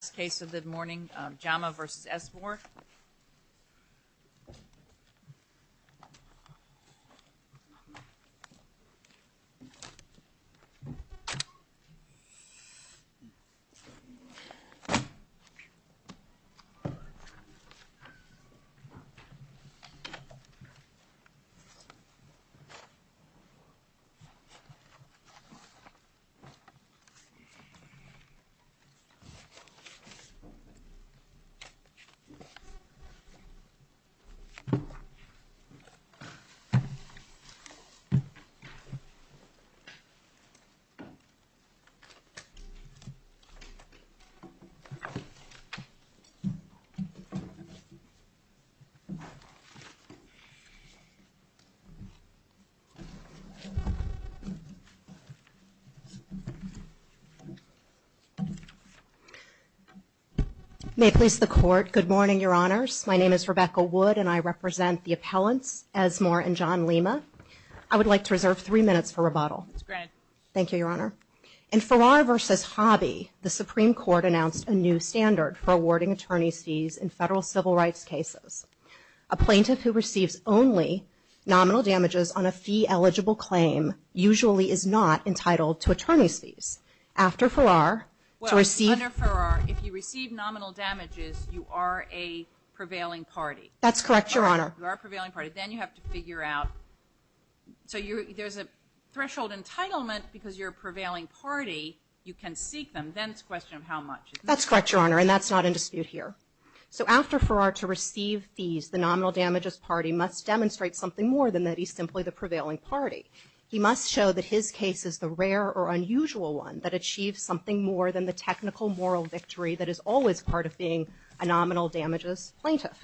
This is the last case of the morning, JAMA v. Esmor. This is the last case of the morning, JAMA v. Esmor. May it please the Court, good morning, Your Honors. My name is Rebecca Wood and I represent the appellants, Esmor and John Lima. I would like to reserve three minutes for rebuttal. That's great. Thank you, Your Honor. In Farrar v. Hobby, the Supreme Court announced a new standard for awarding attorney's fees in federal civil rights cases. A plaintiff who receives only nominal damages on a fee-eligible claim usually is not entitled to attorney's fees. After Farrar, to receive... Well, under Farrar, if you receive nominal damages, you are a prevailing party. That's correct, Your Honor. You are a prevailing party. Then you have to figure out... So there's a threshold entitlement because you're a prevailing party. You can seek them. Then it's a question of how much. That's correct, Your Honor, and that's not in dispute here. So after Farrar, to receive fees, the nominal damages party must demonstrate something more than that he's simply the prevailing party. He must show that his case is the rare or unusual one that achieves something more than the technical moral victory that is always part of being a nominal damages plaintiff.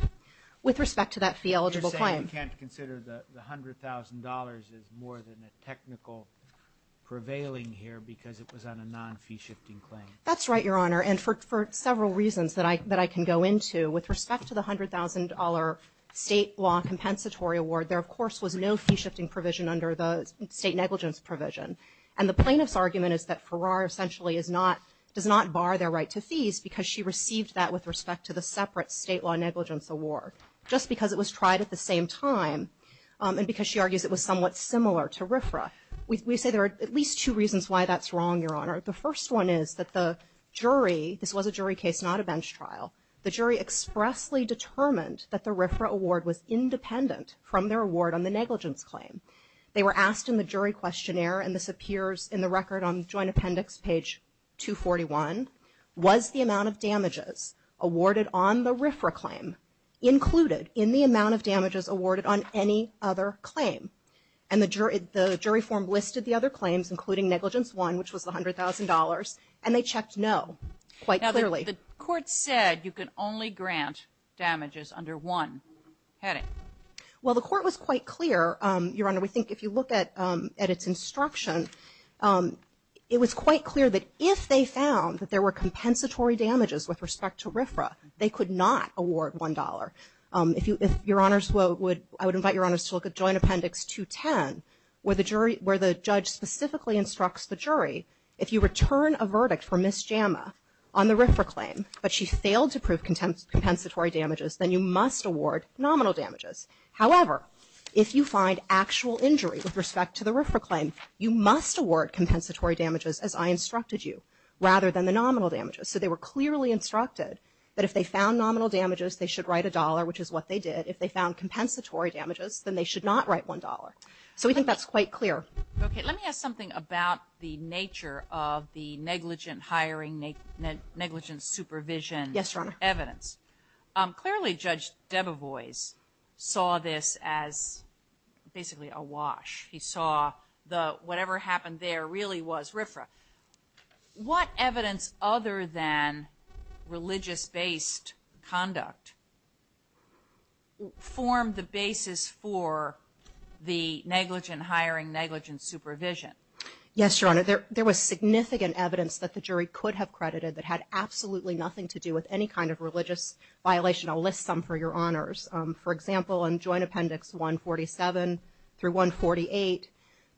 With respect to that fee-eligible claim... You're saying we can't consider the $100,000 as more than a technical prevailing here because it was on a non-fee-shifting claim. That's right, Your Honor, and for several reasons that I can go into. With respect to the $100,000 state law compensatory award, there, of course, was no fee-shifting provision under the state negligence provision. And the plaintiff's argument is that Farrar essentially does not bar their right to fees because she received that with respect to the separate state law negligence award, just because it was tried at the same time and because she argues it was somewhat similar to RFRA. We say there are at least two reasons why that's wrong, Your Honor. The first one is that the jury, this was a jury case, not a bench trial, the jury expressly determined that the RFRA award was independent from their award on the negligence claim. They were asked in the jury questionnaire, and this appears in the record on joint appendix page 241, was the amount of damages awarded on the RFRA claim included in the amount of damages awarded on any other claim? And the jury form listed the other claims, including negligence one, which was the $100,000, and they checked no quite clearly. Now, the court said you could only grant damages under one heading. Well, the court was quite clear, Your Honor. We think if you look at its instruction, it was quite clear that if they found that there were compensatory damages with respect to RFRA, they could not award $1. If Your Honors would, I would invite Your Honors to look at joint appendix 210, where the judge specifically instructs the jury, if you return a verdict for Ms. Jama on the RFRA claim, but she failed to prove compensatory damages, then you must award nominal damages. However, if you find actual injury with respect to the RFRA claim, you must award compensatory damages as I instructed you, rather than the nominal damages. So they were clearly instructed that if they found nominal damages, they should write a dollar, which is what they did. If they found compensatory damages, then they should not write $1. So we think that's quite clear. Okay. Let me ask something about the nature of the negligent hiring, negligent supervision evidence. Yes, Your Honor. Clearly, Judge Debevoise saw this as basically a wash. He saw the whatever happened there really was RFRA. What evidence other than religious-based conduct formed the basis for the negligent hiring, negligent supervision? Yes, Your Honor. There was significant evidence that the jury could have credited that had absolutely nothing to do with any kind of religious violation. I'll list some for Your Honors. For example, in joint appendix 147 through 148,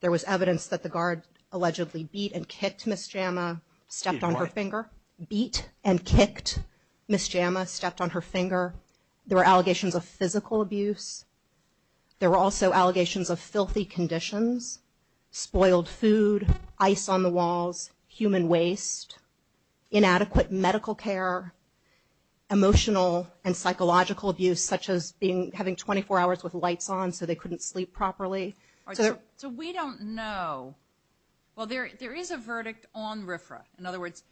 there was evidence that the guard allegedly beat and kicked Ms. Jama, stepped on her finger. Excuse me, what? Beat and kicked Ms. Jama, stepped on her finger. There were allegations of physical abuse. There were also allegations of filthy conditions, spoiled food, ice on the walls, human waste, inadequate medical care, emotional and psychological abuse, such as having 24 hours with lights on so they couldn't sleep properly. So we don't know. Well, there is a verdict on RFRA. In other words,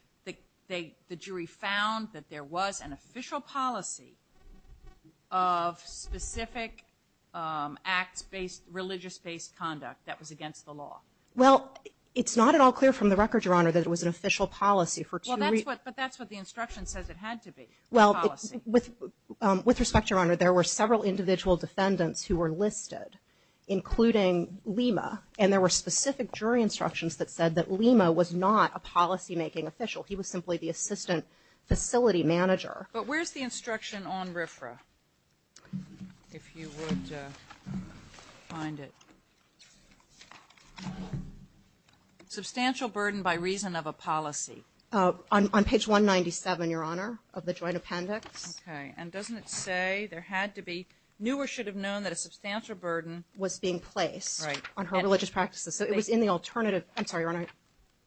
the jury found that there was an official policy of specific acts-based, religious-based conduct that was against the law. Well, it's not at all clear from the record, Your Honor, that it was an official policy. But that's what the instruction says it had to be, the policy. Well, with respect, Your Honor, there were several individual defendants who were listed, including Lima. And there were specific jury instructions that said that Lima was not a policymaking official. He was simply the assistant facility manager. But where's the instruction on RFRA, if you would find it? Substantial burden by reason of a policy. On page 197, Your Honor, of the joint appendix. Okay. And doesn't it say there had to be, knew or should have known that a substantial burden was being placed on her religious practices. So it was in the alternative. I'm sorry, Your Honor.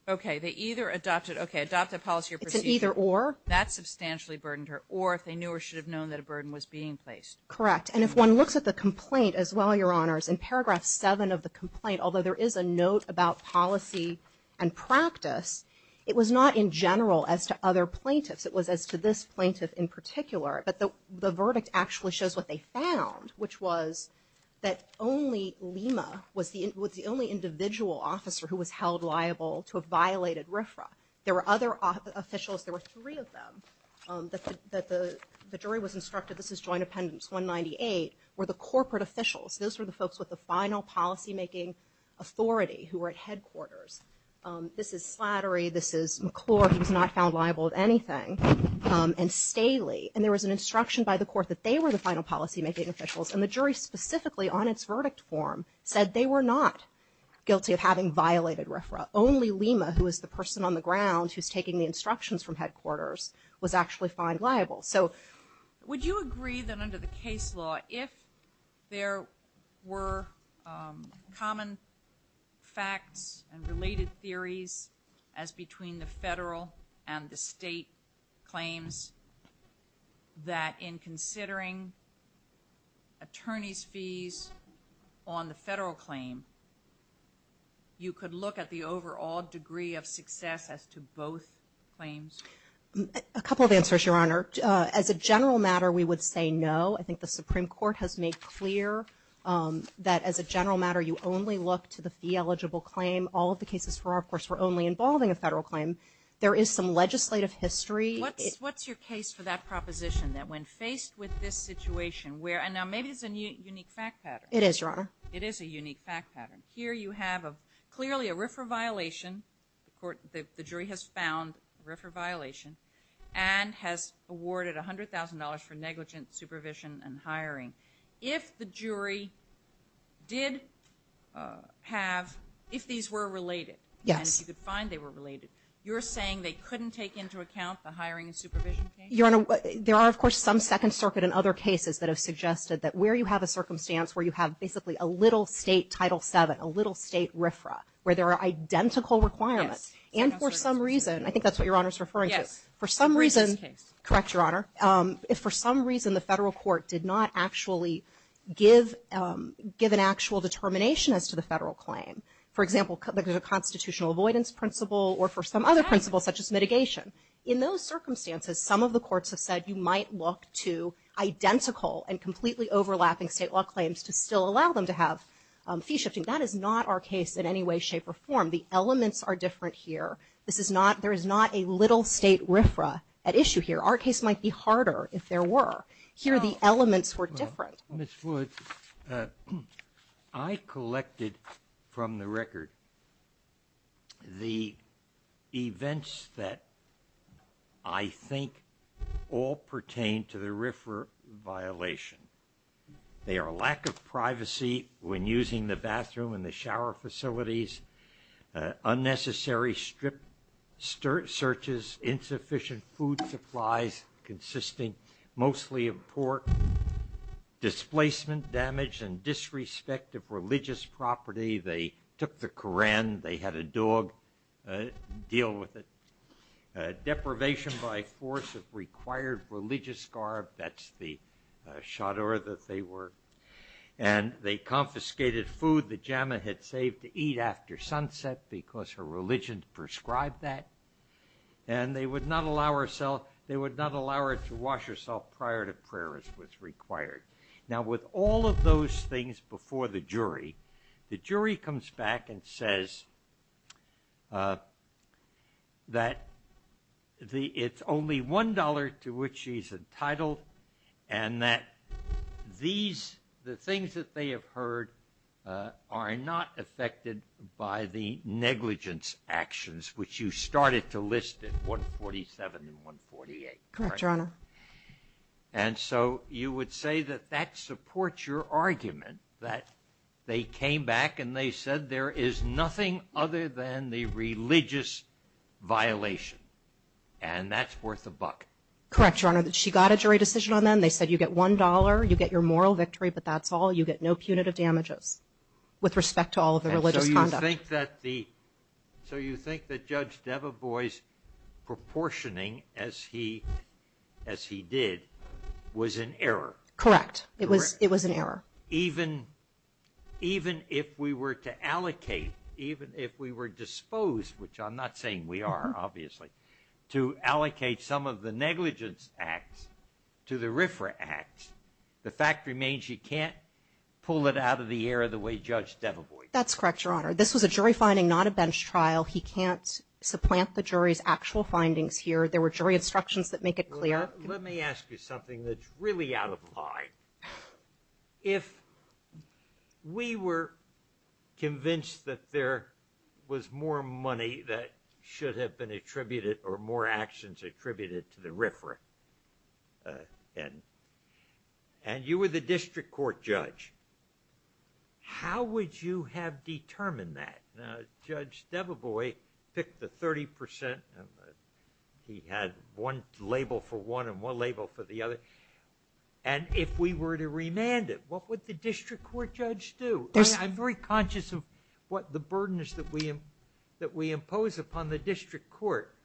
Okay. They either adopted, okay, adopted a policy or procedure. It's an either or. That substantially burdened her. Or if they knew or should have known that a burden was being placed. Correct. And if one looks at the complaint as well, Your Honors, in paragraph 7 of the complaint, although there is a note about policy and practice, it was not in general as to other plaintiffs. It was as to this plaintiff in particular. But the verdict actually shows what they found, which was that only Lima was the only individual officer who was held liable to have violated RFRA. There were other officials, there were three of them, that the jury was instructed, this is joint appendix 198, were the corporate officials. Those were the folks with the final policymaking authority who were at headquarters. This is Slattery. This is McClure. He was not found liable of anything. And Staley. And there was an instruction by the court that they were the final policymaking officials. And the jury specifically on its verdict form said they were not guilty of having violated RFRA. Only Lima, who is the person on the ground who is taking the instructions from headquarters, was actually found liable. So would you agree that under the case law, if there were common facts and related theories as between the federal and the state claims, that in considering attorney's fees on the federal claim, you could look at the overall degree of success as to both claims? A couple of answers, Your Honor. As a general matter, we would say no. I think the Supreme Court has made clear that as a general matter, you only look to the fee-eligible claim. All of the cases for RFRA were only involving a federal claim. There is some legislative history. What's your case for that proposition, that when faced with this situation, and now maybe it's a unique fact pattern. It is, Your Honor. It is a unique fact pattern. Here you have clearly a RFRA violation. The jury has found RFRA violation and has awarded $100,000 for negligent supervision and hiring. If the jury did have, if these were related, and if you could find they were related, you're saying they couldn't take into account the hiring and supervision case? Your Honor, there are of course some Second Circuit and other cases that have suggested that where you have a circumstance where you have basically a little state Title VII, a little state RFRA, where there are identical requirements, and for some reason, I think that's what Your Honor is referring to, for some reason, correct, Your Honor, if for some reason the federal court did not actually give an actual determination as to the federal claim. For example, there's a constitutional avoidance principle or for some other principle such as mitigation. In those circumstances, some of the courts have said you might look to identical and completely overlapping state law claims to still allow them to have fee shifting. That is not our case in any way, shape, or form. The elements are different here. This is not, there is not a little state RFRA at issue here. Our case might be harder if there were. Here the elements were different. Ms. Woods, I collected from the record the events that I think all pertain to the RFRA violation. They are lack of privacy when using the bathroom and the shower facilities, unnecessary strip searches, insufficient food supplies consisting mostly of displacement, damage, and disrespect of religious property. They took the Koran. They had a dog deal with it. Deprivation by force of required religious garb. That's the chador that they were. And they confiscated food the Jama had saved to eat after sunset because her religion prescribed that. And they would not allow herself, they would not allow her to wash herself prior to prayer as was required. Now with all of those things before the jury, the jury comes back and says that it's only one dollar to which she's entitled and that these, the things that they have heard are not affected by the And so you would say that that supports your argument that they came back and they said there is nothing other than the religious violation. And that's worth a buck. Correct, Your Honor. She got a jury decision on them. They said you get one dollar, you get your moral victory, but that's all. You get no punitive damages with respect to all of the religious conduct. So you think that Judge Devevois' proportioning as he did was an error. Correct. It was an error. Even if we were to allocate, even if we were disposed, which I'm not saying we are obviously, to allocate some of the negligence acts to the RFRA acts, the fact remains you can't pull it out of the air the way Judge Devevois did. That's correct, Your Honor. This was a jury finding, not a bench trial. He can't supplant the jury's actual findings here. There were jury instructions that make it clear. Let me ask you something that's really out of line. If we were convinced that there was more money that should have been attributed or more actions attributed to the RFRA, and you were the district court judge, how would you have determined that? Now, Judge Devevois picked the 30 percent. He had one label for one and one label for the other. And if we were to remand it, what would the district court judge do? I'm very conscious of what the burdens that we impose upon the district court,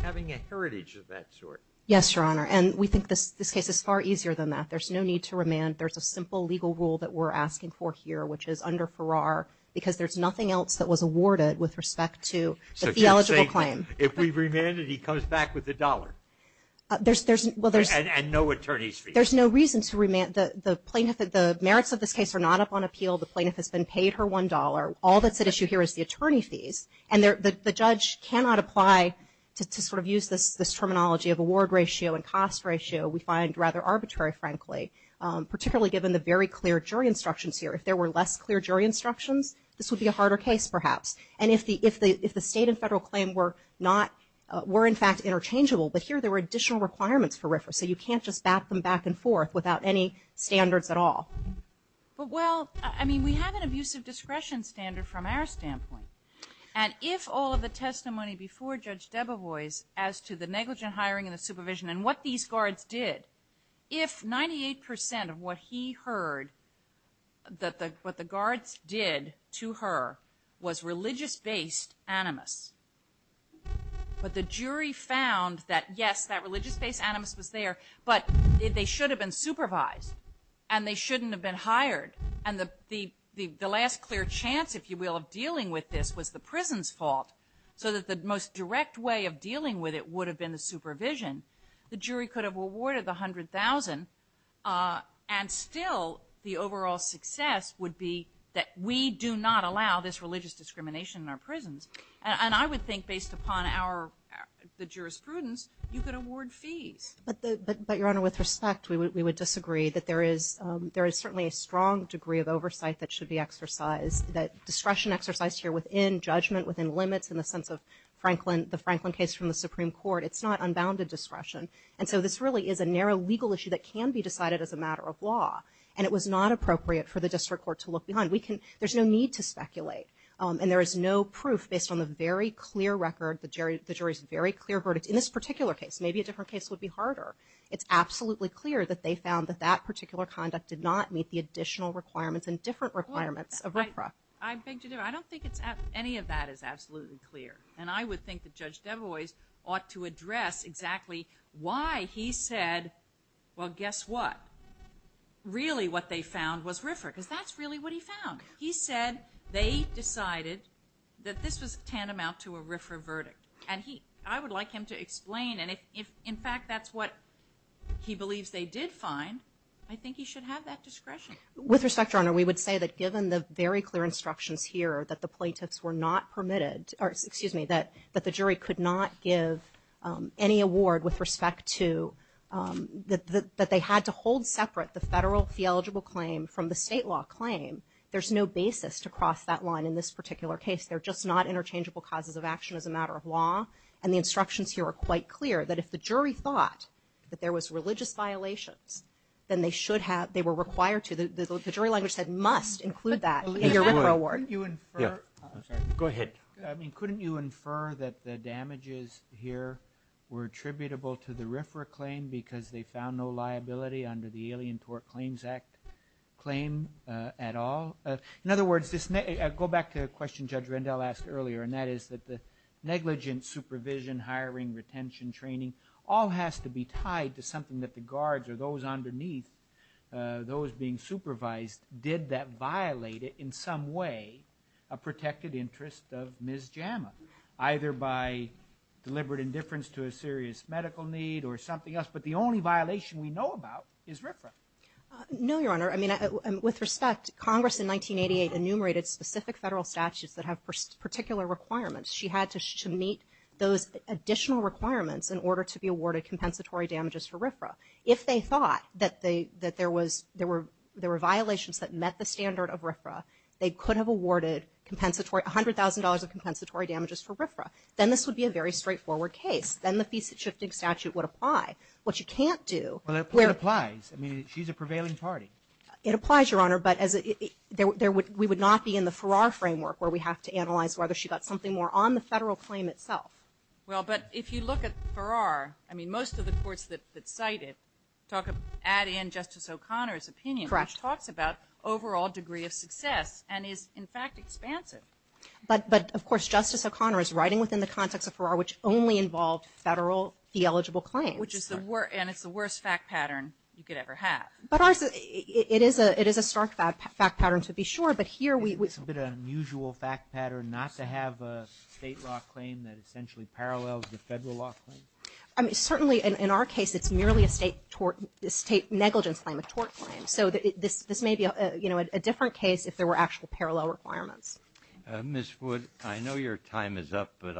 having a heritage of that sort. Yes, Your Honor. And we think this case is far easier than that. There's no need to remand. There's a simple legal rule that we're asking for here, which is under Farrar, because there's nothing else that was awarded with respect to the eligible claim. If we remand it, he comes back with a dollar. And no attorney's fees. There's no reason to remand. The merits of this case are not up on appeal. The plaintiff has been paid her $1. All that's at issue here is the attorney fees. And the judge cannot apply to sort of use this terminology of award ratio and cost ratio we find rather arbitrary, frankly, particularly given the very clear jury instructions here. If there were less clear jury instructions, this would be a harder case perhaps. And if the state and federal claim were in fact interchangeable, but here there were additional requirements for RFRA, so you can't just back them back and forth without any standards at all. But, well, I mean, we have an abusive discretion standard from our standpoint. And if all of the testimony before Judge Debevoise as to the negligent hiring and the supervision and what these guards did, if 98% of what he heard that the guards did to her was religious-based animus, but the jury found that, yes, that religious-based animus was there, but they should have been supervised and they shouldn't have been hired. And the last clear chance, if you will, of dealing with this was the prison's fault, so that the most direct way of dealing with it would have been the supervision. The jury could have awarded the $100,000, and still the overall success would be that we do not allow this religious discrimination in our prisons. And I would think, based upon the jurisprudence, you could award fees. But, Your Honor, with respect, we would disagree, that there is certainly a strong degree of oversight that should be exercised, that discretion exercised here within judgment, within limits, in the sense of the Franklin case from the Supreme Court. It's not unbounded discretion. And so this really is a narrow legal issue that can be decided as a matter of law, and it was not appropriate for the district court to look behind. There's no need to speculate. And there is no proof, based on the very clear record, the jury's very clear verdict in this particular case. Maybe a different case would be harder. It's absolutely clear that they found that that particular conduct did not meet the additional requirements and different requirements of RFRA. I beg to differ. I don't think any of that is absolutely clear. And I would think that Judge Debois ought to address exactly why he said, well, guess what, really what they found was RFRA, because that's really what he found. He said they decided that this was tantamount to a RFRA verdict. And I would like him to explain. And if, in fact, that's what he believes they did find, I think he should have that discretion. With respect, Your Honor, we would say that given the very clear instructions here that the jury could not give any award with respect to that they had to hold separate the federal fee-eligible claim from the state law claim, there's no basis to cross that line in this particular case. They're just not interchangeable causes of action as a matter of law. And the instructions here are quite clear, that if the jury thought that there was religious violations, then they should have, they were required to, the jury language said must include that in your RFRA award. Go ahead. Couldn't you infer that the damages here were attributable to the RFRA claim because they found no liability under the Alien Tort Claims Act claim at all? In other words, go back to a question Judge Rendell asked earlier, and that is that the negligent supervision, hiring, retention, training, all has to be tied to something that the guards or those underneath, those being supervised, did that violate it in some way, a protected interest of Ms. Jama, either by deliberate indifference to a serious medical need or something else. But the only violation we know about is RFRA. No, Your Honor. I mean, with respect, Congress in 1988 enumerated specific federal statutes that have particular requirements. She had to meet those additional requirements in order to be awarded compensatory damages for RFRA. If they thought that there were violations that met the standard of RFRA, they could have awarded $100,000 of compensatory damages for RFRA. Then this would be a very straightforward case. Then the Fee-Shifting Statute would apply. What you can't do, Well, it applies. I mean, she's a prevailing party. It applies, Your Honor, but we would not be in the Farrar framework where we have to analyze whether she got something more on the federal claim itself. Well, but if you look at Farrar, I mean, most of the courts that cite it add in Justice O'Connor's opinion, which talks about overall degree of success and is, in fact, expansive. But, of course, Justice O'Connor is writing within the context of Farrar, which only involved federal fee-eligible claims. And it's the worst fact pattern you could ever have. But it is a stark fact pattern, to be sure, but here we It's a bit of an unusual fact pattern not to have a state law claim that essentially parallels the federal law claim. Certainly, in our case, it's merely a state negligence claim, a tort claim. So this may be a different case if there were actual parallel requirements. Ms. Wood, I know your time is up, but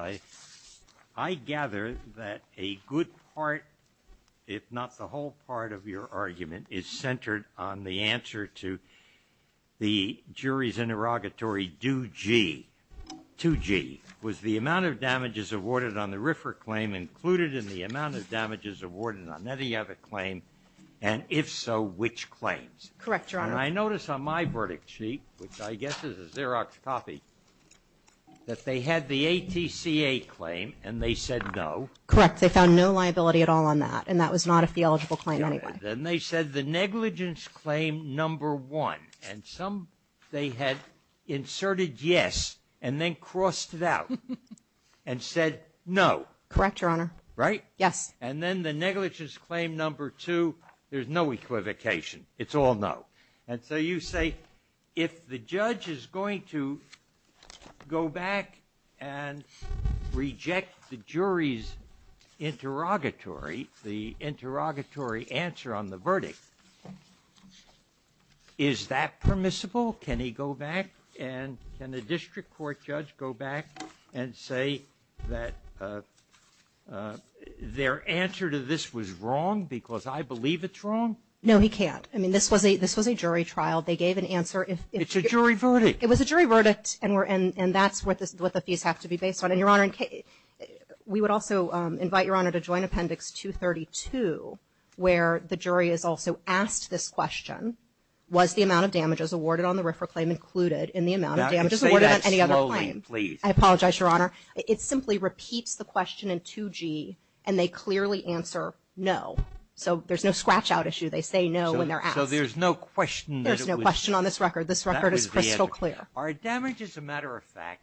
I gather that a good part, if not the whole part, of your argument is centered on the answer to the jury's interrogatory Do G. 2G. Was the amount of damages awarded on the Riffer claim included in the amount of damages awarded on any other claim? And, if so, which claims? Correct, Your Honor. And I notice on my verdict sheet, which I guess is a Xerox copy, that they had the ATCA claim and they said no. Correct, they found no liability at all on that, and that was not a fee-eligible claim anyway. Then they said the negligence claim number one, and some, they had inserted yes and then crossed it out and said no. Correct, Your Honor. Right? Yes. And then the negligence claim number two, there's no equivocation. It's all no. And so you say if the judge is going to go back and reject the jury's interrogatory, the interrogatory answer on the verdict, is that permissible? Can he go back and can a district court judge go back and say that their answer to this was wrong because I believe it's wrong? No, he can't. I mean, this was a jury trial. They gave an answer. It's a jury verdict. It was a jury verdict, and that's what the fees have to be based on. And, Your Honor, we would also invite, Your Honor, to join Appendix 232, where the jury is also asked this question, was the amount of damages awarded on the RFRA claim included in the amount of damages awarded on any other claim? Say that slowly, please. I apologize, Your Honor. It simply repeats the question in 2G, and they clearly answer no. So there's no scratch-out issue. They say no when they're asked. So there's no question that it was. There's no question on this record. This record is crystal clear. Are damages a matter of fact?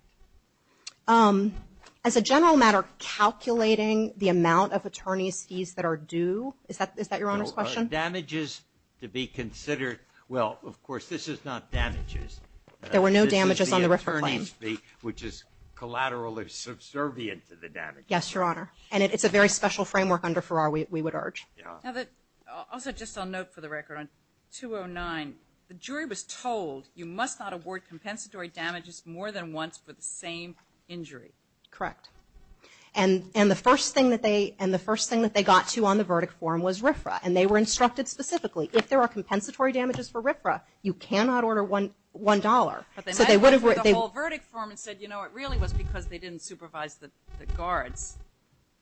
As a general matter, calculating the amount of attorney's fees that are due, is that Your Honor's question? Are damages to be considered? Well, of course, this is not damages. There were no damages on the RFRA claim. This is the attorney's fee, which is collaterally subservient to the damages. Yes, Your Honor. And it's a very special framework under Farrar, we would urge. Also, just on note for the record, on 209, the jury was told, you must not award compensatory damages more than once for the same injury. Correct. And the first thing that they got to on the verdict form was RFRA, and they were instructed specifically, if there are compensatory damages for RFRA, you cannot order $1. But they met with the whole verdict form and said, you know, it really was because they didn't supervise the guards.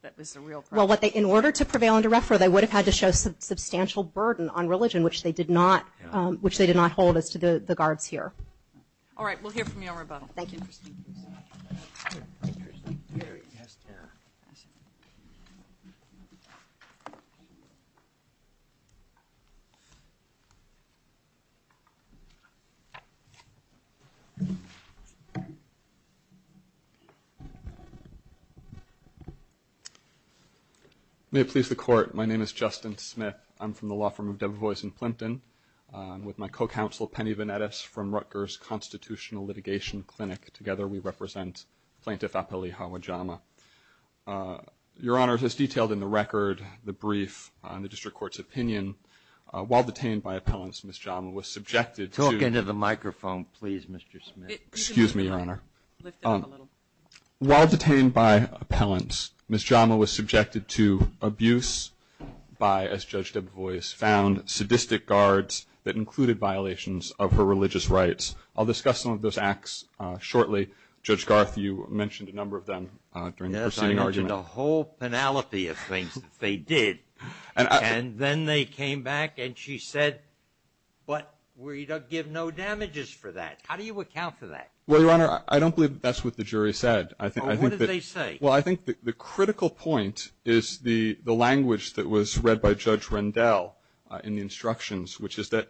That was the real question. Well, in order to prevail under RFRA, they would have had to show substantial burden on religion, which they did not hold as to the guards here. All right. We'll hear from you on rebuttal. Thank you. May it please the Court. My name is Justin Smith. I'm from the law firm of Debevoise & Plimpton. I'm with my co-counsel, Penny Venetis, from Rutgers Constitutional Litigation Clinic. Together we represent Plaintiff Apeleihawajama. Your Honor, as detailed in the record, the brief, and the District Court's opinion, while detained by appellants, Ms. Jama was subjected to — Talk into the microphone, please, Mr. Smith. Excuse me, Your Honor. Lift it up a little. While detained by appellants, Ms. Jama was subjected to abuse by, as Judge Debevoise found, sadistic guards that included violations of her religious rights. I'll discuss some of those acts shortly. Judge Garth, you mentioned a number of them during the proceeding argument. Yes, I mentioned a whole penalty of things that they did. And then they came back and she said, but we give no damages for that. How do you account for that? Well, Your Honor, I don't believe that's what the jury said. What did they say? Well, I think the critical point is the language that was read by Judge Rendell in the instructions, which is that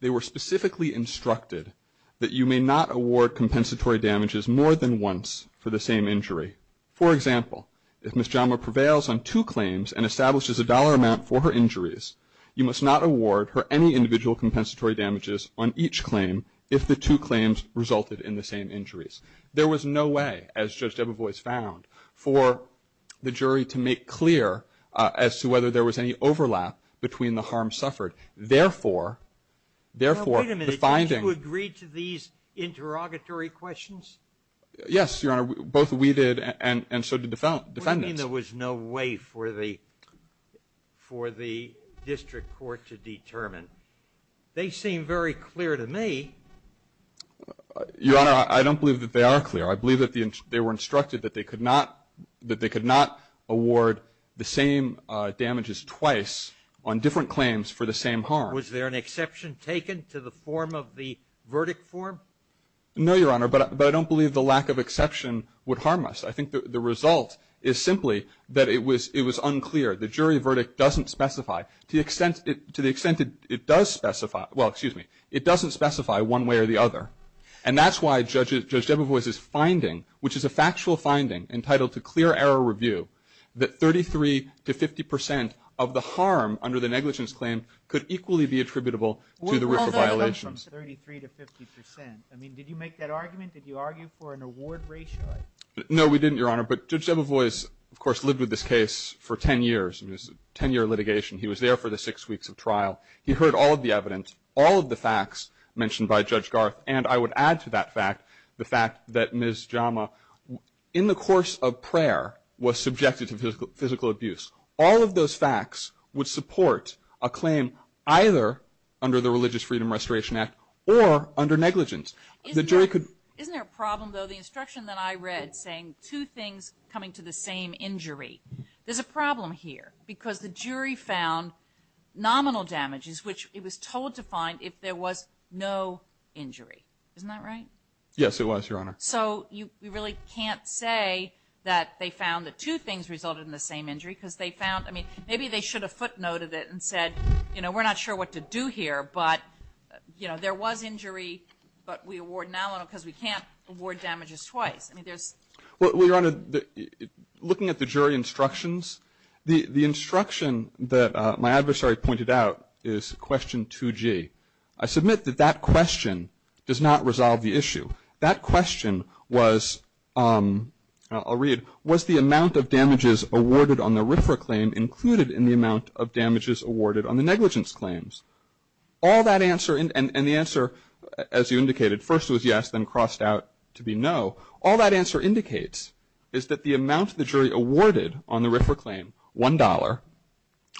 they were specifically instructed that you may not award compensatory damages more than once for the same injury. For example, if Ms. Jama prevails on two claims and establishes a dollar amount for her injuries, you must not award her any individual compensatory damages on each claim if the two claims resulted in the same injuries. There was no way, as Judge Debevoise found, for the jury to make clear as to whether there was any overlap between the harm suffered. Therefore, therefore, the finding. Now, wait a minute. Didn't you agree to these interrogatory questions? Yes, Your Honor. Both we did and so did defendants. What do you mean there was no way for the district court to determine? They seem very clear to me. Your Honor, I don't believe that they are clear. I believe that they were instructed that they could not award the same damages twice on different claims for the same harm. Was there an exception taken to the form of the verdict form? No, Your Honor, but I don't believe the lack of exception would harm us. I think the result is simply that it was unclear. The jury verdict doesn't specify. To the extent it does specify, well, excuse me, it doesn't specify one way or the other. And that's why Judge Debevoise's finding, which is a factual finding entitled to clear error review, that 33 to 50 percent of the harm under the negligence claim could equally be attributable to the RIFA violations. Well, that comes from 33 to 50 percent. I mean, did you make that argument? Did you argue for an award ratio? No, we didn't, Your Honor. But Judge Debevoise, of course, lived with this case for 10 years. It was a 10-year litigation. He was there for the six weeks of trial. He heard all of the evidence, all of the facts mentioned by Judge Garth, and I would add to that fact the fact that Ms. Jama, in the course of prayer, was subjected to physical abuse. All of those facts would support a claim either under the Religious Freedom Restoration Act or under negligence. Isn't there a problem, though? The instruction that I read saying two things coming to the same injury. There's a problem here because the jury found nominal damages, which it was told to find if there was no injury. Isn't that right? Yes, it was, Your Honor. So you really can't say that they found that two things resulted in the same injury because they found, I mean, maybe they should have footnoted it and said, you know, we're not sure what to do here, but, you know, there was injury, but we award nominal because we can't award damages twice. Well, Your Honor, looking at the jury instructions, the instruction that my adversary pointed out is question 2G. I submit that that question does not resolve the issue. That question was, I'll read, was the amount of damages awarded on the RFRA claim included in the amount of damages awarded on the negligence claims? All that answer, and the answer, as you indicated, first was yes, then crossed out to be no. All that answer indicates is that the amount the jury awarded on the RFRA claim, $1,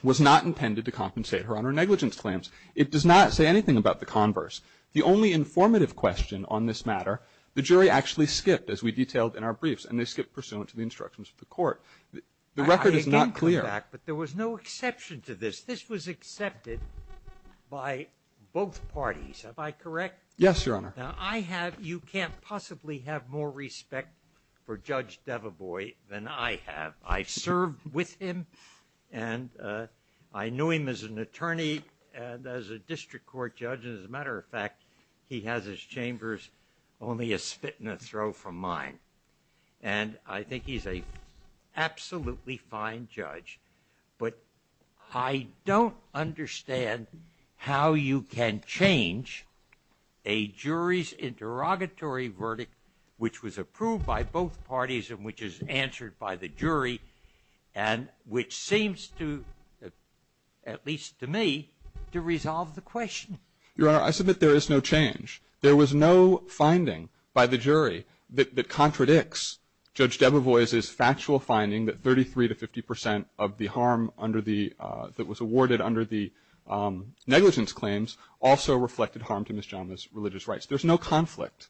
was not intended to compensate her on her negligence claims. It does not say anything about the converse. The only informative question on this matter, the jury actually skipped, as we detailed in our briefs, and they skipped pursuant to the instructions of the Court. The record is not clear. I again come back, but there was no exception to this. This was accepted by both parties. Am I correct? Yes, Your Honor. Now, I have, you can't possibly have more respect for Judge Devebois than I have. I served with him, and I knew him as an attorney, and as a district court judge, and as a matter of fact, he has his chambers only a spit and a throw from mine. And I think he's an absolutely fine judge, but I don't understand how you can change a jury's interrogatory verdict, which was approved by both parties and which is answered by the jury, and which seems to, at least to me, to resolve the question. Your Honor, I submit there is no change. There was no finding by the jury that contradicts Judge Debovois' factual finding that 33 to 50 percent of the harm under the, that was awarded under the negligence claims also reflected harm to Ms. Giamma's religious rights. There's no conflict.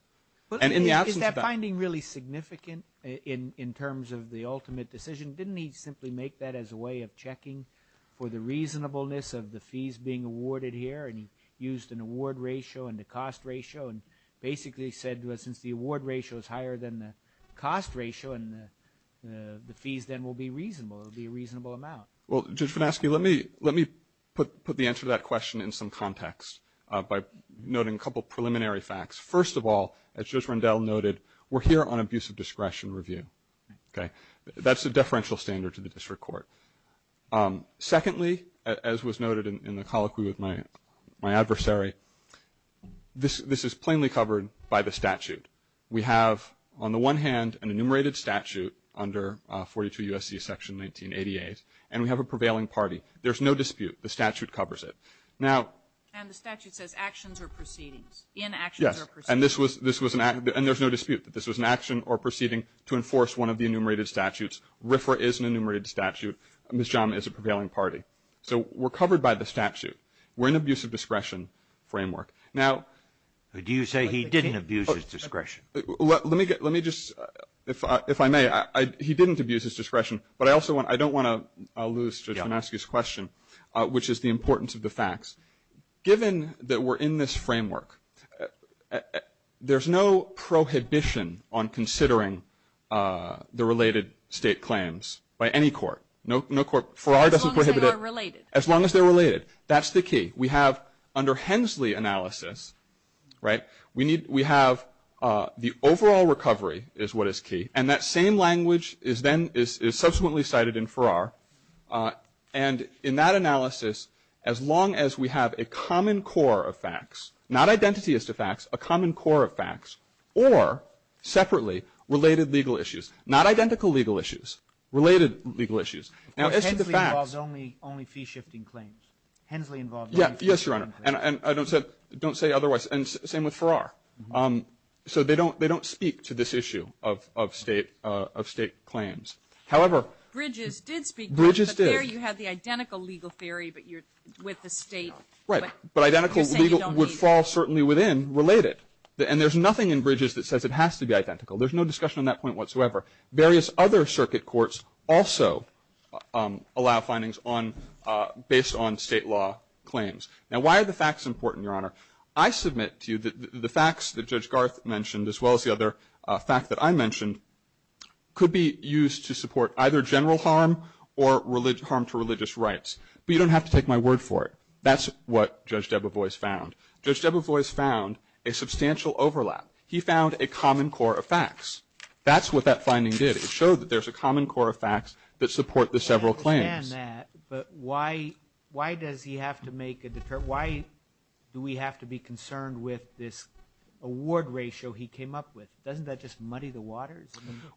And in the absence of that. But is that finding really significant in terms of the ultimate decision? Didn't he simply make that as a way of checking for the reasonableness of the fees being awarded here? And he used an award ratio and a cost ratio and basically said, well, since the award ratio is higher than the cost ratio and the fees then will be reasonable, it will be a reasonable amount. Well, Judge Finasci, let me, let me put the answer to that question in some context by noting a couple preliminary facts. First of all, as Judge Rendell noted, we're here on abuse of discretion review. Okay? That's a deferential standard to the district court. Secondly, as was noted in the colloquy with my adversary, this, this is plainly covered by the statute. We have on the one hand an enumerated statute under 42 U.S.C. section 1988, and we have a prevailing party. There's no dispute. The statute covers it. Now. And the statute says actions or proceedings. In actions or proceedings. Yes. And this was, this was an, and there's no dispute that this was an action or proceeding to enforce one of the enumerated statutes. RFRA is an enumerated statute. Ms. Giamma is a prevailing party. So we're covered by the statute. We're in abuse of discretion framework. Now. Do you say he didn't abuse his discretion? Let me get, let me just, if I, if I may, I, I, he didn't abuse his discretion, but I also want, I don't want to elude the judge and ask his question, which is the importance of the facts. Given that we're in this framework, there's no prohibition on considering the related state claims by any court. No, no court, FRA doesn't prohibit it. As long as they are related. That's the key. We have under Hensley analysis, right, we need, we have the overall recovery is what is key. And that same language is then, is subsequently cited in FRA. And in that analysis, as long as we have a common core of facts, not identity as to facts, a common core of facts, or separately related legal issues, not identical legal issues, related legal issues. Now, as to the facts. Hensley involves only, only fee shifting claims. Hensley involves only fee shifting claims. Yes, Your Honor. And I don't say, don't say otherwise. And same with FRA. So they don't, they don't speak to this issue of, of state, of state claims. However. Bridges did speak. Bridges did. But there you have the identical legal theory, but you're with the state. Right. But identical legal would fall certainly within related. And there's nothing in Bridges that says it has to be identical. There's no discussion on that point whatsoever. Various other circuit courts also allow findings on, based on state law claims. Now, why are the facts important, Your Honor? I submit to you that the facts that Judge Garth mentioned, as well as the other fact that I mentioned, could be used to support either general harm or harm to religious rights. But you don't have to take my word for it. That's what Judge Debevoise found. Judge Debevoise found a substantial overlap. He found a common core of facts. That's what that finding did. It showed that there's a common core of facts that support the several claims. I understand that, but why, why does he have to make a, why do we have to be concerned with this award ratio he came up with? Doesn't that just muddy the waters?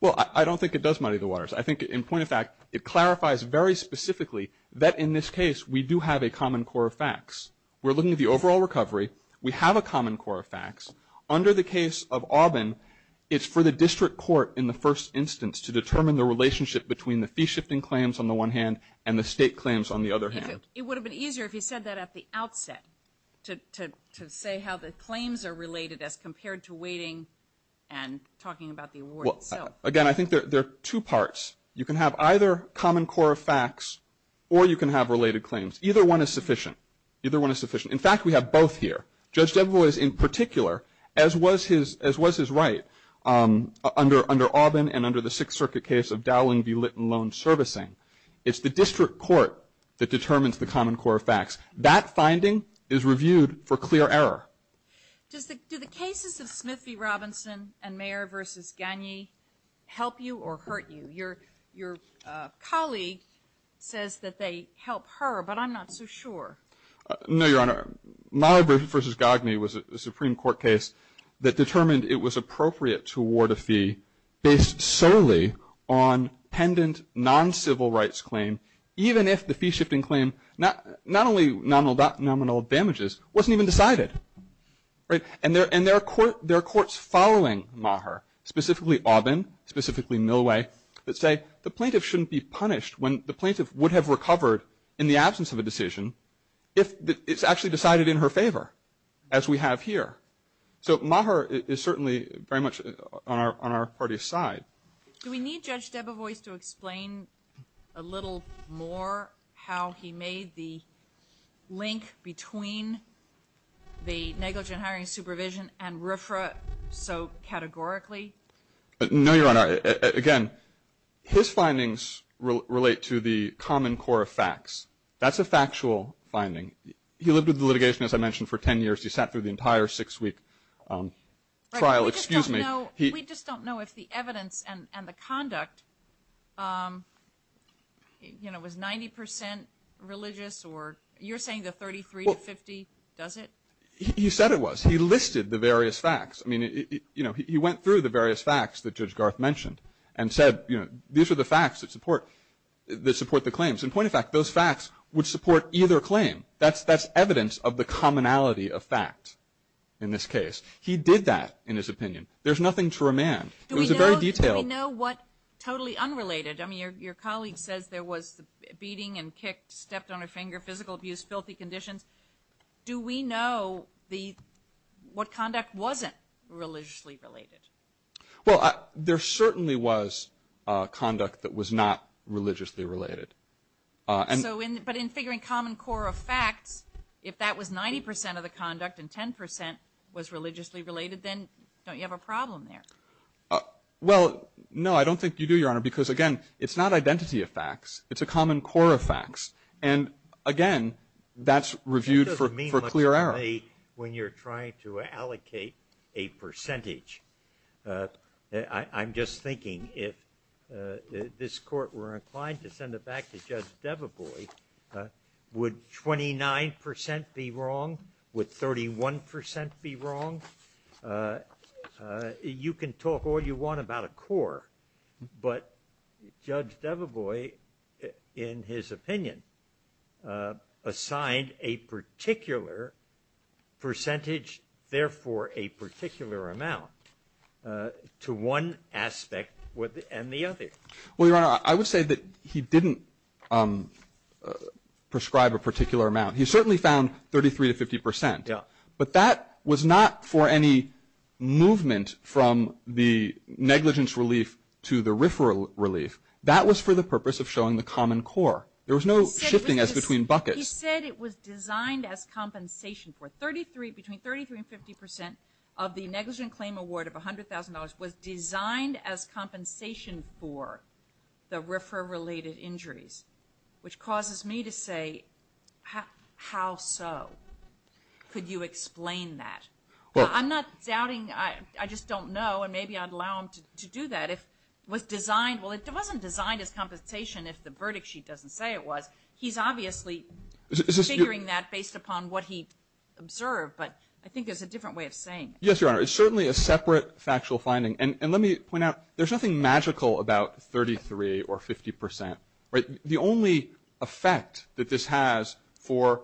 Well, I don't think it does muddy the waters. I think, in point of fact, it clarifies very specifically that in this case we do have a common core of facts. We're looking at the overall recovery. We have a common core of facts. Under the case of Aubin, it's for the district court in the first instance to determine the relationship between the fee-shifting claims on the one hand and the state claims on the other hand. It would have been easier if he said that at the outset, to say how the claims are related as compared to weighting and talking about the award itself. Again, I think there are two parts. You can have either common core of facts or you can have related claims. Either one is sufficient. Either one is sufficient. In fact, we have both here. Judge Debevoise, in particular, as was his right under Aubin and under the Sixth Circuit case of Dowling v. Litton loan servicing, it's the district court that determines the common core of facts. That finding is reviewed for clear error. Do the cases of Smith v. Robinson and Mayer v. Gagne help you or hurt you? Your colleague says that they help her, but I'm not so sure. No, Your Honor. Mayer v. Gagne was a Supreme Court case that determined it was appropriate to award a fee based solely on pendent non-civil rights claim, even if the fee-shifting claim, not only nominal damages, wasn't even decided. And there are courts following Mayer, specifically Aubin, specifically Millway, that say the plaintiff shouldn't be punished when the plaintiff would have decided in her favor, as we have here. So Mayer is certainly very much on our party's side. Do we need Judge Debevoise to explain a little more how he made the link between the negligent hiring supervision and RFRA so categorically? No, Your Honor. Again, his findings relate to the common core of facts. That's a factual finding. He lived with the litigation, as I mentioned, for ten years. He sat through the entire six-week trial. Excuse me. We just don't know if the evidence and the conduct, you know, was 90 percent religious or you're saying the 33 to 50, does it? He said it was. He listed the various facts. I mean, you know, he went through the various facts that Judge Garth mentioned and said, you know, these are the facts that support the claims. And point of fact, those facts would support either claim. That's evidence of the commonality of fact in this case. He did that, in his opinion. There's nothing to remand. It was very detailed. Do we know what totally unrelated? I mean, your colleague says there was the beating and kicked, stepped on a finger, physical abuse, filthy conditions. Do we know what conduct wasn't religiously related? Well, there certainly was conduct that was not religiously related. But in figuring common core of facts, if that was 90 percent of the conduct and 10 percent was religiously related, then don't you have a problem there? Well, no, I don't think you do, Your Honor, because, again, it's not identity of facts. It's a common core of facts. And, again, that's reviewed for clear error. When you're trying to allocate a percentage, I'm just thinking if this court were inclined to send it back to Judge Deveboy, would 29 percent be wrong? Would 31 percent be wrong? But Judge Deveboy, in his opinion, assigned a particular percentage, therefore a particular amount, to one aspect and the other. Well, Your Honor, I would say that he didn't prescribe a particular amount. He certainly found 33 to 50 percent. Yeah. But that was not for any movement from the negligence relief to the RFRA relief. That was for the purpose of showing the common core. There was no shifting as between buckets. He said it was designed as compensation for 33, between 33 and 50 percent of the negligent claim award of $100,000 was designed as compensation for the RFRA-related injuries, which causes me to say, how so? Could you explain that? I'm not doubting. I just don't know. And maybe I'd allow him to do that. If it was designed, well, it wasn't designed as compensation, if the verdict sheet doesn't say it was. He's obviously figuring that based upon what he observed. But I think there's a different way of saying it. Yes, Your Honor. It's certainly a separate factual finding. And let me point out, there's nothing magical about 33 or 50 percent. The only effect that this has for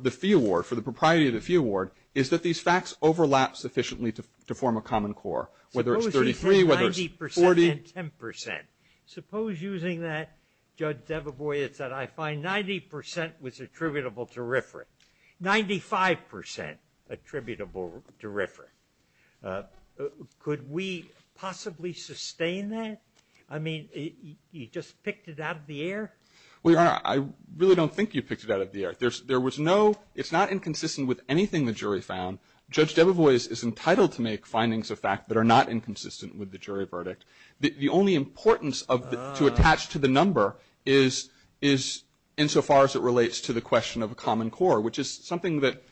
the fee award, for the propriety of the fee award, is that these facts overlap sufficiently to form a common core, whether it's 33, whether it's 40. Suppose he said 90 percent and 10 percent. Suppose using that, Judge Debevoy, it's that I find 90 percent was attributable to RFRA, 95 percent attributable to RFRA. Could we possibly sustain that? I mean, you just picked it out of the air? Well, Your Honor, I really don't think you picked it out of the air. There was no ‑‑ it's not inconsistent with anything the jury found. Judge Debevoy is entitled to make findings of fact that are not inconsistent with the jury verdict. The only importance to attach to the number is insofar as it relates to the question of a common core, which is something that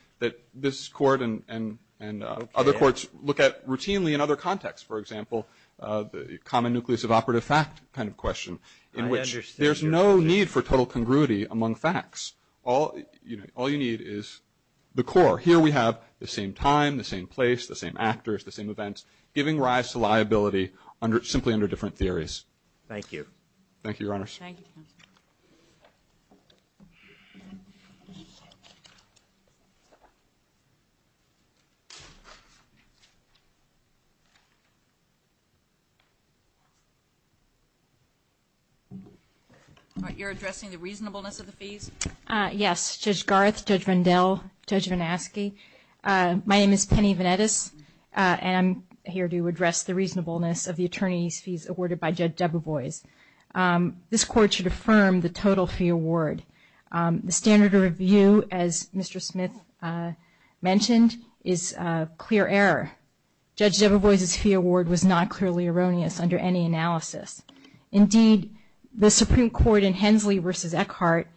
this Court and other courts look at routinely in other contexts. For example, the common nucleus of operative fact kind of question, in which there's no need for total congruity among facts. All you need is the core. Here we have the same time, the same place, the same actors, the same events, giving rise to liability simply under different theories. Thank you. Thank you, Your Honor. Thank you, counsel. You're addressing the reasonableness of the fees? Yes. Judge Garth, Judge Vandell, Judge Vanaski. My name is Penny Vanettis, and I'm here to address the reasonableness of the attorney's fees awarded by Judge Debevoy. This Court should affirm the total fee award. The standard of review, as Mr. Smith mentioned, is clear error. Judge Debevoy's fee award was not clearly erroneous under any analysis. Indeed, the Supreme Court in Hensley v. Eckhart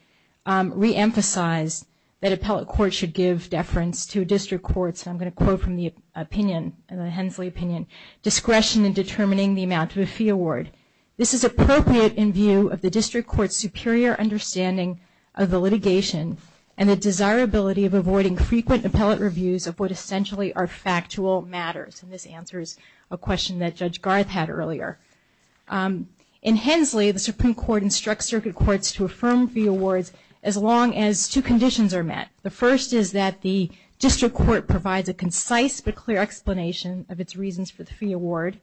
reemphasized that appellate courts should give deference to district courts, and I'm going to quote from the Hensley opinion, discretion in determining the amount of a fee award. This is appropriate in view of the district court's superior understanding of the litigation and the desirability of avoiding frequent appellate reviews of what essentially are factual matters. And this answers a question that Judge Garth had earlier. In Hensley, the Supreme Court instructs circuit courts to affirm fee awards as long as two conditions are met. The first is that the district court provides a concise but clear explanation of its reasons for the fee award.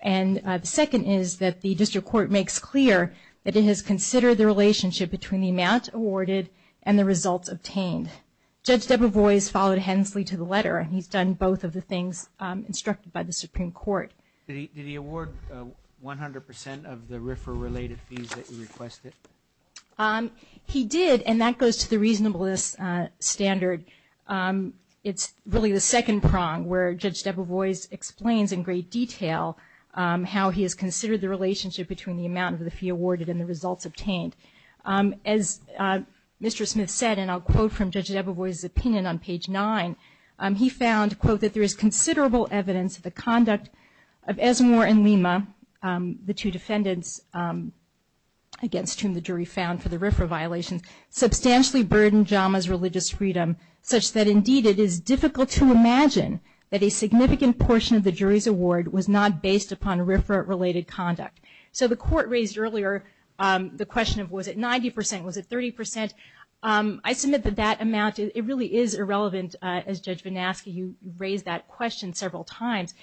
And the second is that the district court makes clear that it has considered the relationship between the amount awarded and the results obtained. Judge Debevoy has followed Hensley to the letter, and he's done both of the things instructed by the Supreme Court. Did he award 100% of the RFRA-related fees that you requested? He did, and that goes to the reasonableness standard. It's really the second prong where Judge Debevoy explains in great detail how he has considered the relationship between the amount of the fee awarded and the results obtained. As Mr. Smith said, and I'll quote from Judge Debevoy's opinion on page 9, he found, quote, that there is considerable evidence of the conduct of Esmore and Lima, the two defendants against whom the jury found for the RFRA violations, substantially burdened Jama's religious freedom such that, indeed, it is difficult to imagine that a significant portion of the jury's award was not based upon RFRA-related conduct. So the court raised earlier the question of was it 90%, was it 30%. I submit that that amount, it really is irrelevant. As Judge Vanasky, you raised that question several times.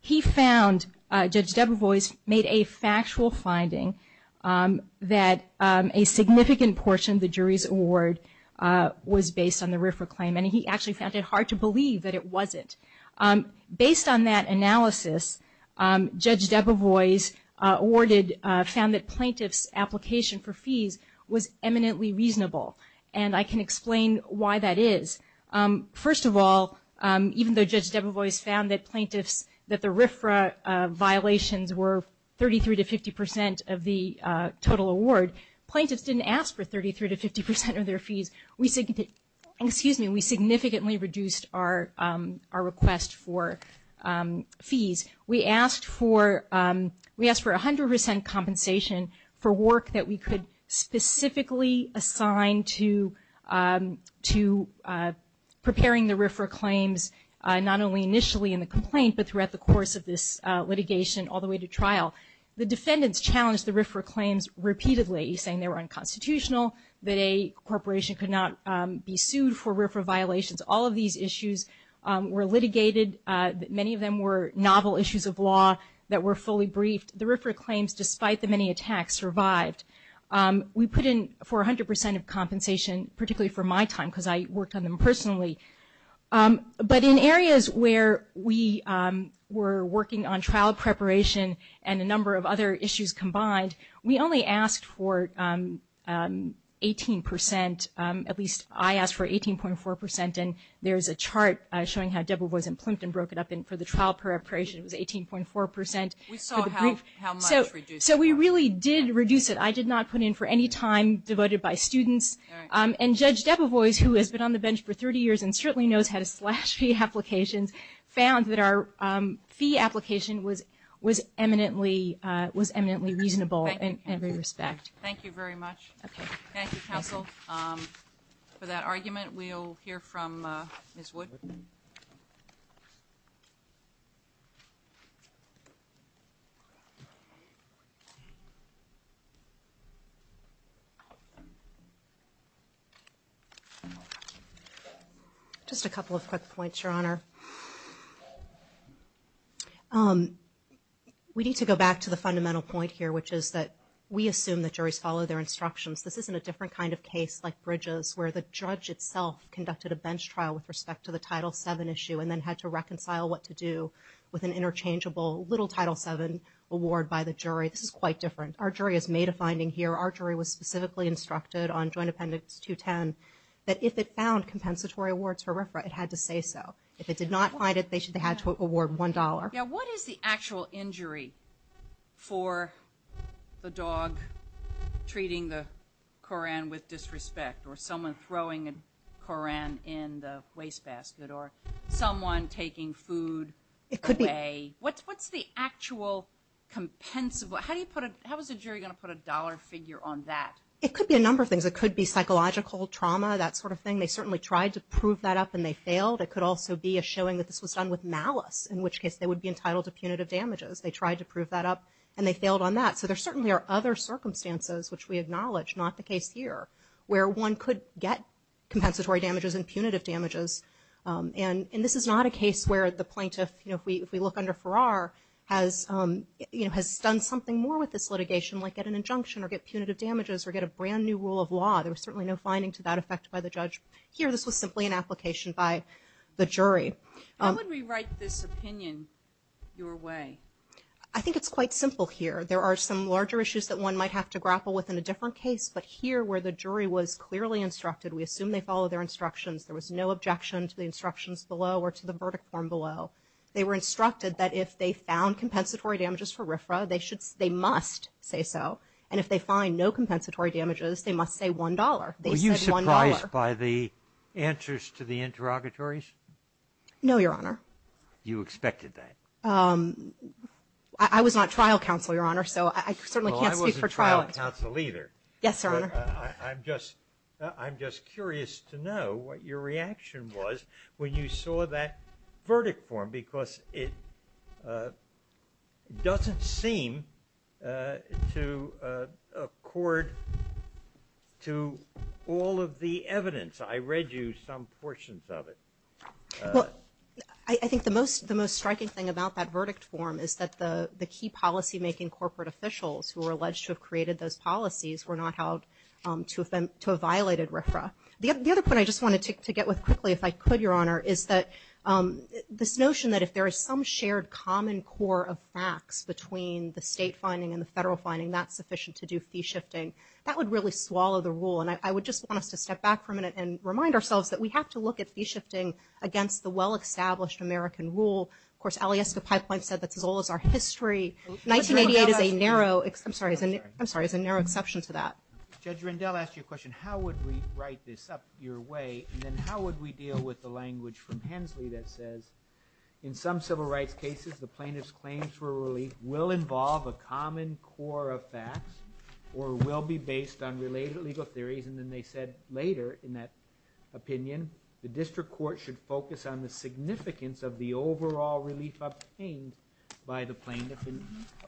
He found, Judge Debevoy made a factual finding that a significant portion of the jury's award was based on the RFRA claim, and he actually found it hard to believe that it wasn't. Based on that analysis, Judge Debevoy's award found that plaintiff's application for fees was eminently reasonable, and I can explain why that is. First of all, even though Judge Debevoy's found that the RFRA violations were 33% to 50% of the total award, plaintiffs didn't ask for 33% to 50% of their fees. We significantly reduced our request for fees. We asked for 100% compensation for work that we could specifically assign to preparing the RFRA claims, not only initially in the complaint, but throughout the course of this litigation all the way to trial. The defendants challenged the RFRA claims repeatedly, saying they were unconstitutional, that a corporation could not be sued for RFRA violations. All of these issues were litigated. Many of them were novel issues of law that were fully briefed. The RFRA claims, despite the many attacks, survived. We put in for 100% of compensation, particularly for my time, because I worked on them personally. But in areas where we were working on trial preparation and a number of other issues combined, we only asked for 18%, at least I asked for 18.4%, and there's a chart showing how Debevoy's and Plimpton broke it up, and for the trial preparation it was 18.4%. So we really did reduce it. I did not put in for any time devoted by students. And Judge Debevoy, who has been on the bench for 30 years and certainly knows how to slash fee applications, found that our fee application was eminently reasonable in every respect. Thank you very much. Thank you, counsel, for that argument. We'll hear from Ms. Wood. Just a couple of quick points, Your Honor. We need to go back to the fundamental point here, which is that we assume that juries follow their instructions. This isn't a different kind of case like Bridges, where the judge itself conducted a bench trial with respect to the Title VII issue and then had to reconcile what to do with an interchangeable little Title VII award by the jury. This is quite different. Our jury has made a finding here. Our jury was specifically instructed on Joint Appendix 210 that if it found compensatory awards for RFRA, it had to say so. If it did not find it, they had to award $1. What is the actual injury for the dog treating the Koran with disrespect or someone throwing a Koran in the wastebasket or someone taking food away? What's the actual compensable? How is a jury going to put a dollar figure on that? It could be a number of things. It could be psychological trauma, that sort of thing. They certainly tried to prove that up, and they failed. It could also be a showing that this was done with malice, in which case they would be entitled to punitive damages. They tried to prove that up, and they failed on that. So there certainly are other circumstances, which we acknowledge, not the case here, where one could get compensatory damages and punitive damages. And this is not a case where the plaintiff, if we look under Farrar, has done something more with this litigation, like get an injunction or get punitive damages or get a brand-new rule of law. There was certainly no finding to that effect by the judge here. This was simply an application by the jury. How would we write this opinion your way? I think it's quite simple here. There are some larger issues that one might have to grapple with in a different case, but here, where the jury was clearly instructed, we assume they followed their instructions. There was no objection to the instructions below or to the verdict form below. They were instructed that if they found compensatory damages for RFRA, they must say so, and if they find no compensatory damages, they must say $1. They said $1. Were you surprised by the answers to the interrogatories? No, Your Honor. You expected that. I was not trial counsel, Your Honor, so I certainly can't speak for trial. Well, I wasn't trial counsel either. Yes, Your Honor. I'm just curious to know what your reaction was when you saw that verdict form because it doesn't seem to accord to all of the evidence. I read you some portions of it. I think the most striking thing about that verdict form is that the key policymaking corporate officials who were alleged to have created those policies were not held to have violated RFRA. The other point I just wanted to get with quickly, if I could, Your Honor, is that this notion that if there is some shared common core of facts between the state finding and the federal finding, that's sufficient to do fee shifting. That would really swallow the rule, and I would just want us to step back for a minute and remind ourselves that we have to look at fee shifting against the well-established American rule. Of course, Alyeska Pipeline said that's as old as our history. 1988 is a narrow exception to that. Judge Rendell asked you a question, how would we write this up your way, and then how would we deal with the language from Hensley that says in some civil rights cases, the plaintiff's claims for relief will involve a common core of facts or will be based on related legal theories, and then they said later in that opinion, the district court should focus on the significance of the overall relief obtained by the plaintiff.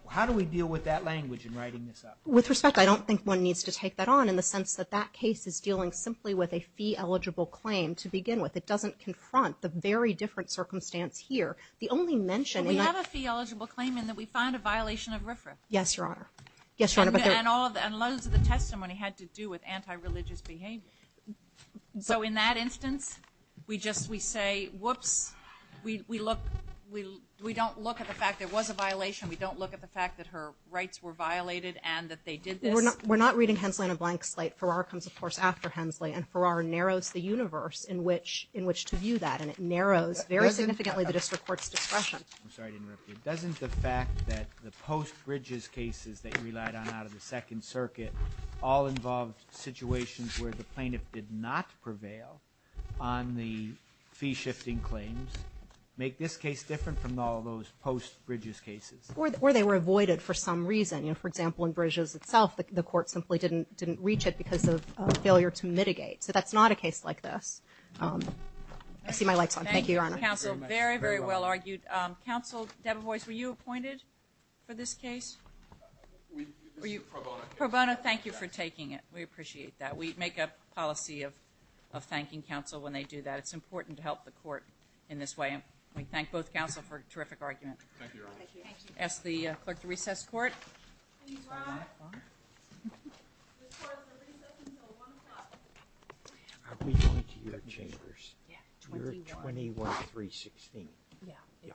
How do we deal with that language in writing this up? With respect, I don't think one needs to take that on in the sense that that case is dealing simply with a fee-eligible claim to begin with. It doesn't confront the very different circumstance here. The only mention in that – We have a fee-eligible claim in that we find a violation of RFRA. Yes, Your Honor. And loads of the testimony had to do with anti-religious behavior. So in that instance, we just – we say, whoops. We look – we don't look at the fact there was a violation. We don't look at the fact that her rights were violated and that they did this. We're not reading Hensley on a blank slate. Farrar comes, of course, after Hensley, and Farrar narrows the universe in which to view that, and it narrows very significantly the district court's discretion. I'm sorry I didn't interrupt you. Doesn't the fact that the post-Bridges cases that you relied on out of the Second Circuit all involved situations where the plaintiff did not prevail on the fee-shifting claims make this case different from all those post-Bridges cases? Or they were avoided for some reason. For example, in Bridges itself, the court simply didn't reach it because of failure to mitigate. So that's not a case like this. I see my light's on. Thank you, Your Honor. Thank you, counsel. Very, very well argued. Counsel Debevoise, were you appointed for this case? Pro Bono. Pro Bono, thank you for taking it. We appreciate that. We make a policy of thanking counsel when they do that. It's important to help the court in this way, and we thank both counsel for a terrific argument. Thank you, Your Honor. Ask the clerk to recess court. Please rise. This court is at recess until 1 o'clock. Are we going to your chambers? Yeah, 21. You're 21-316. Yeah.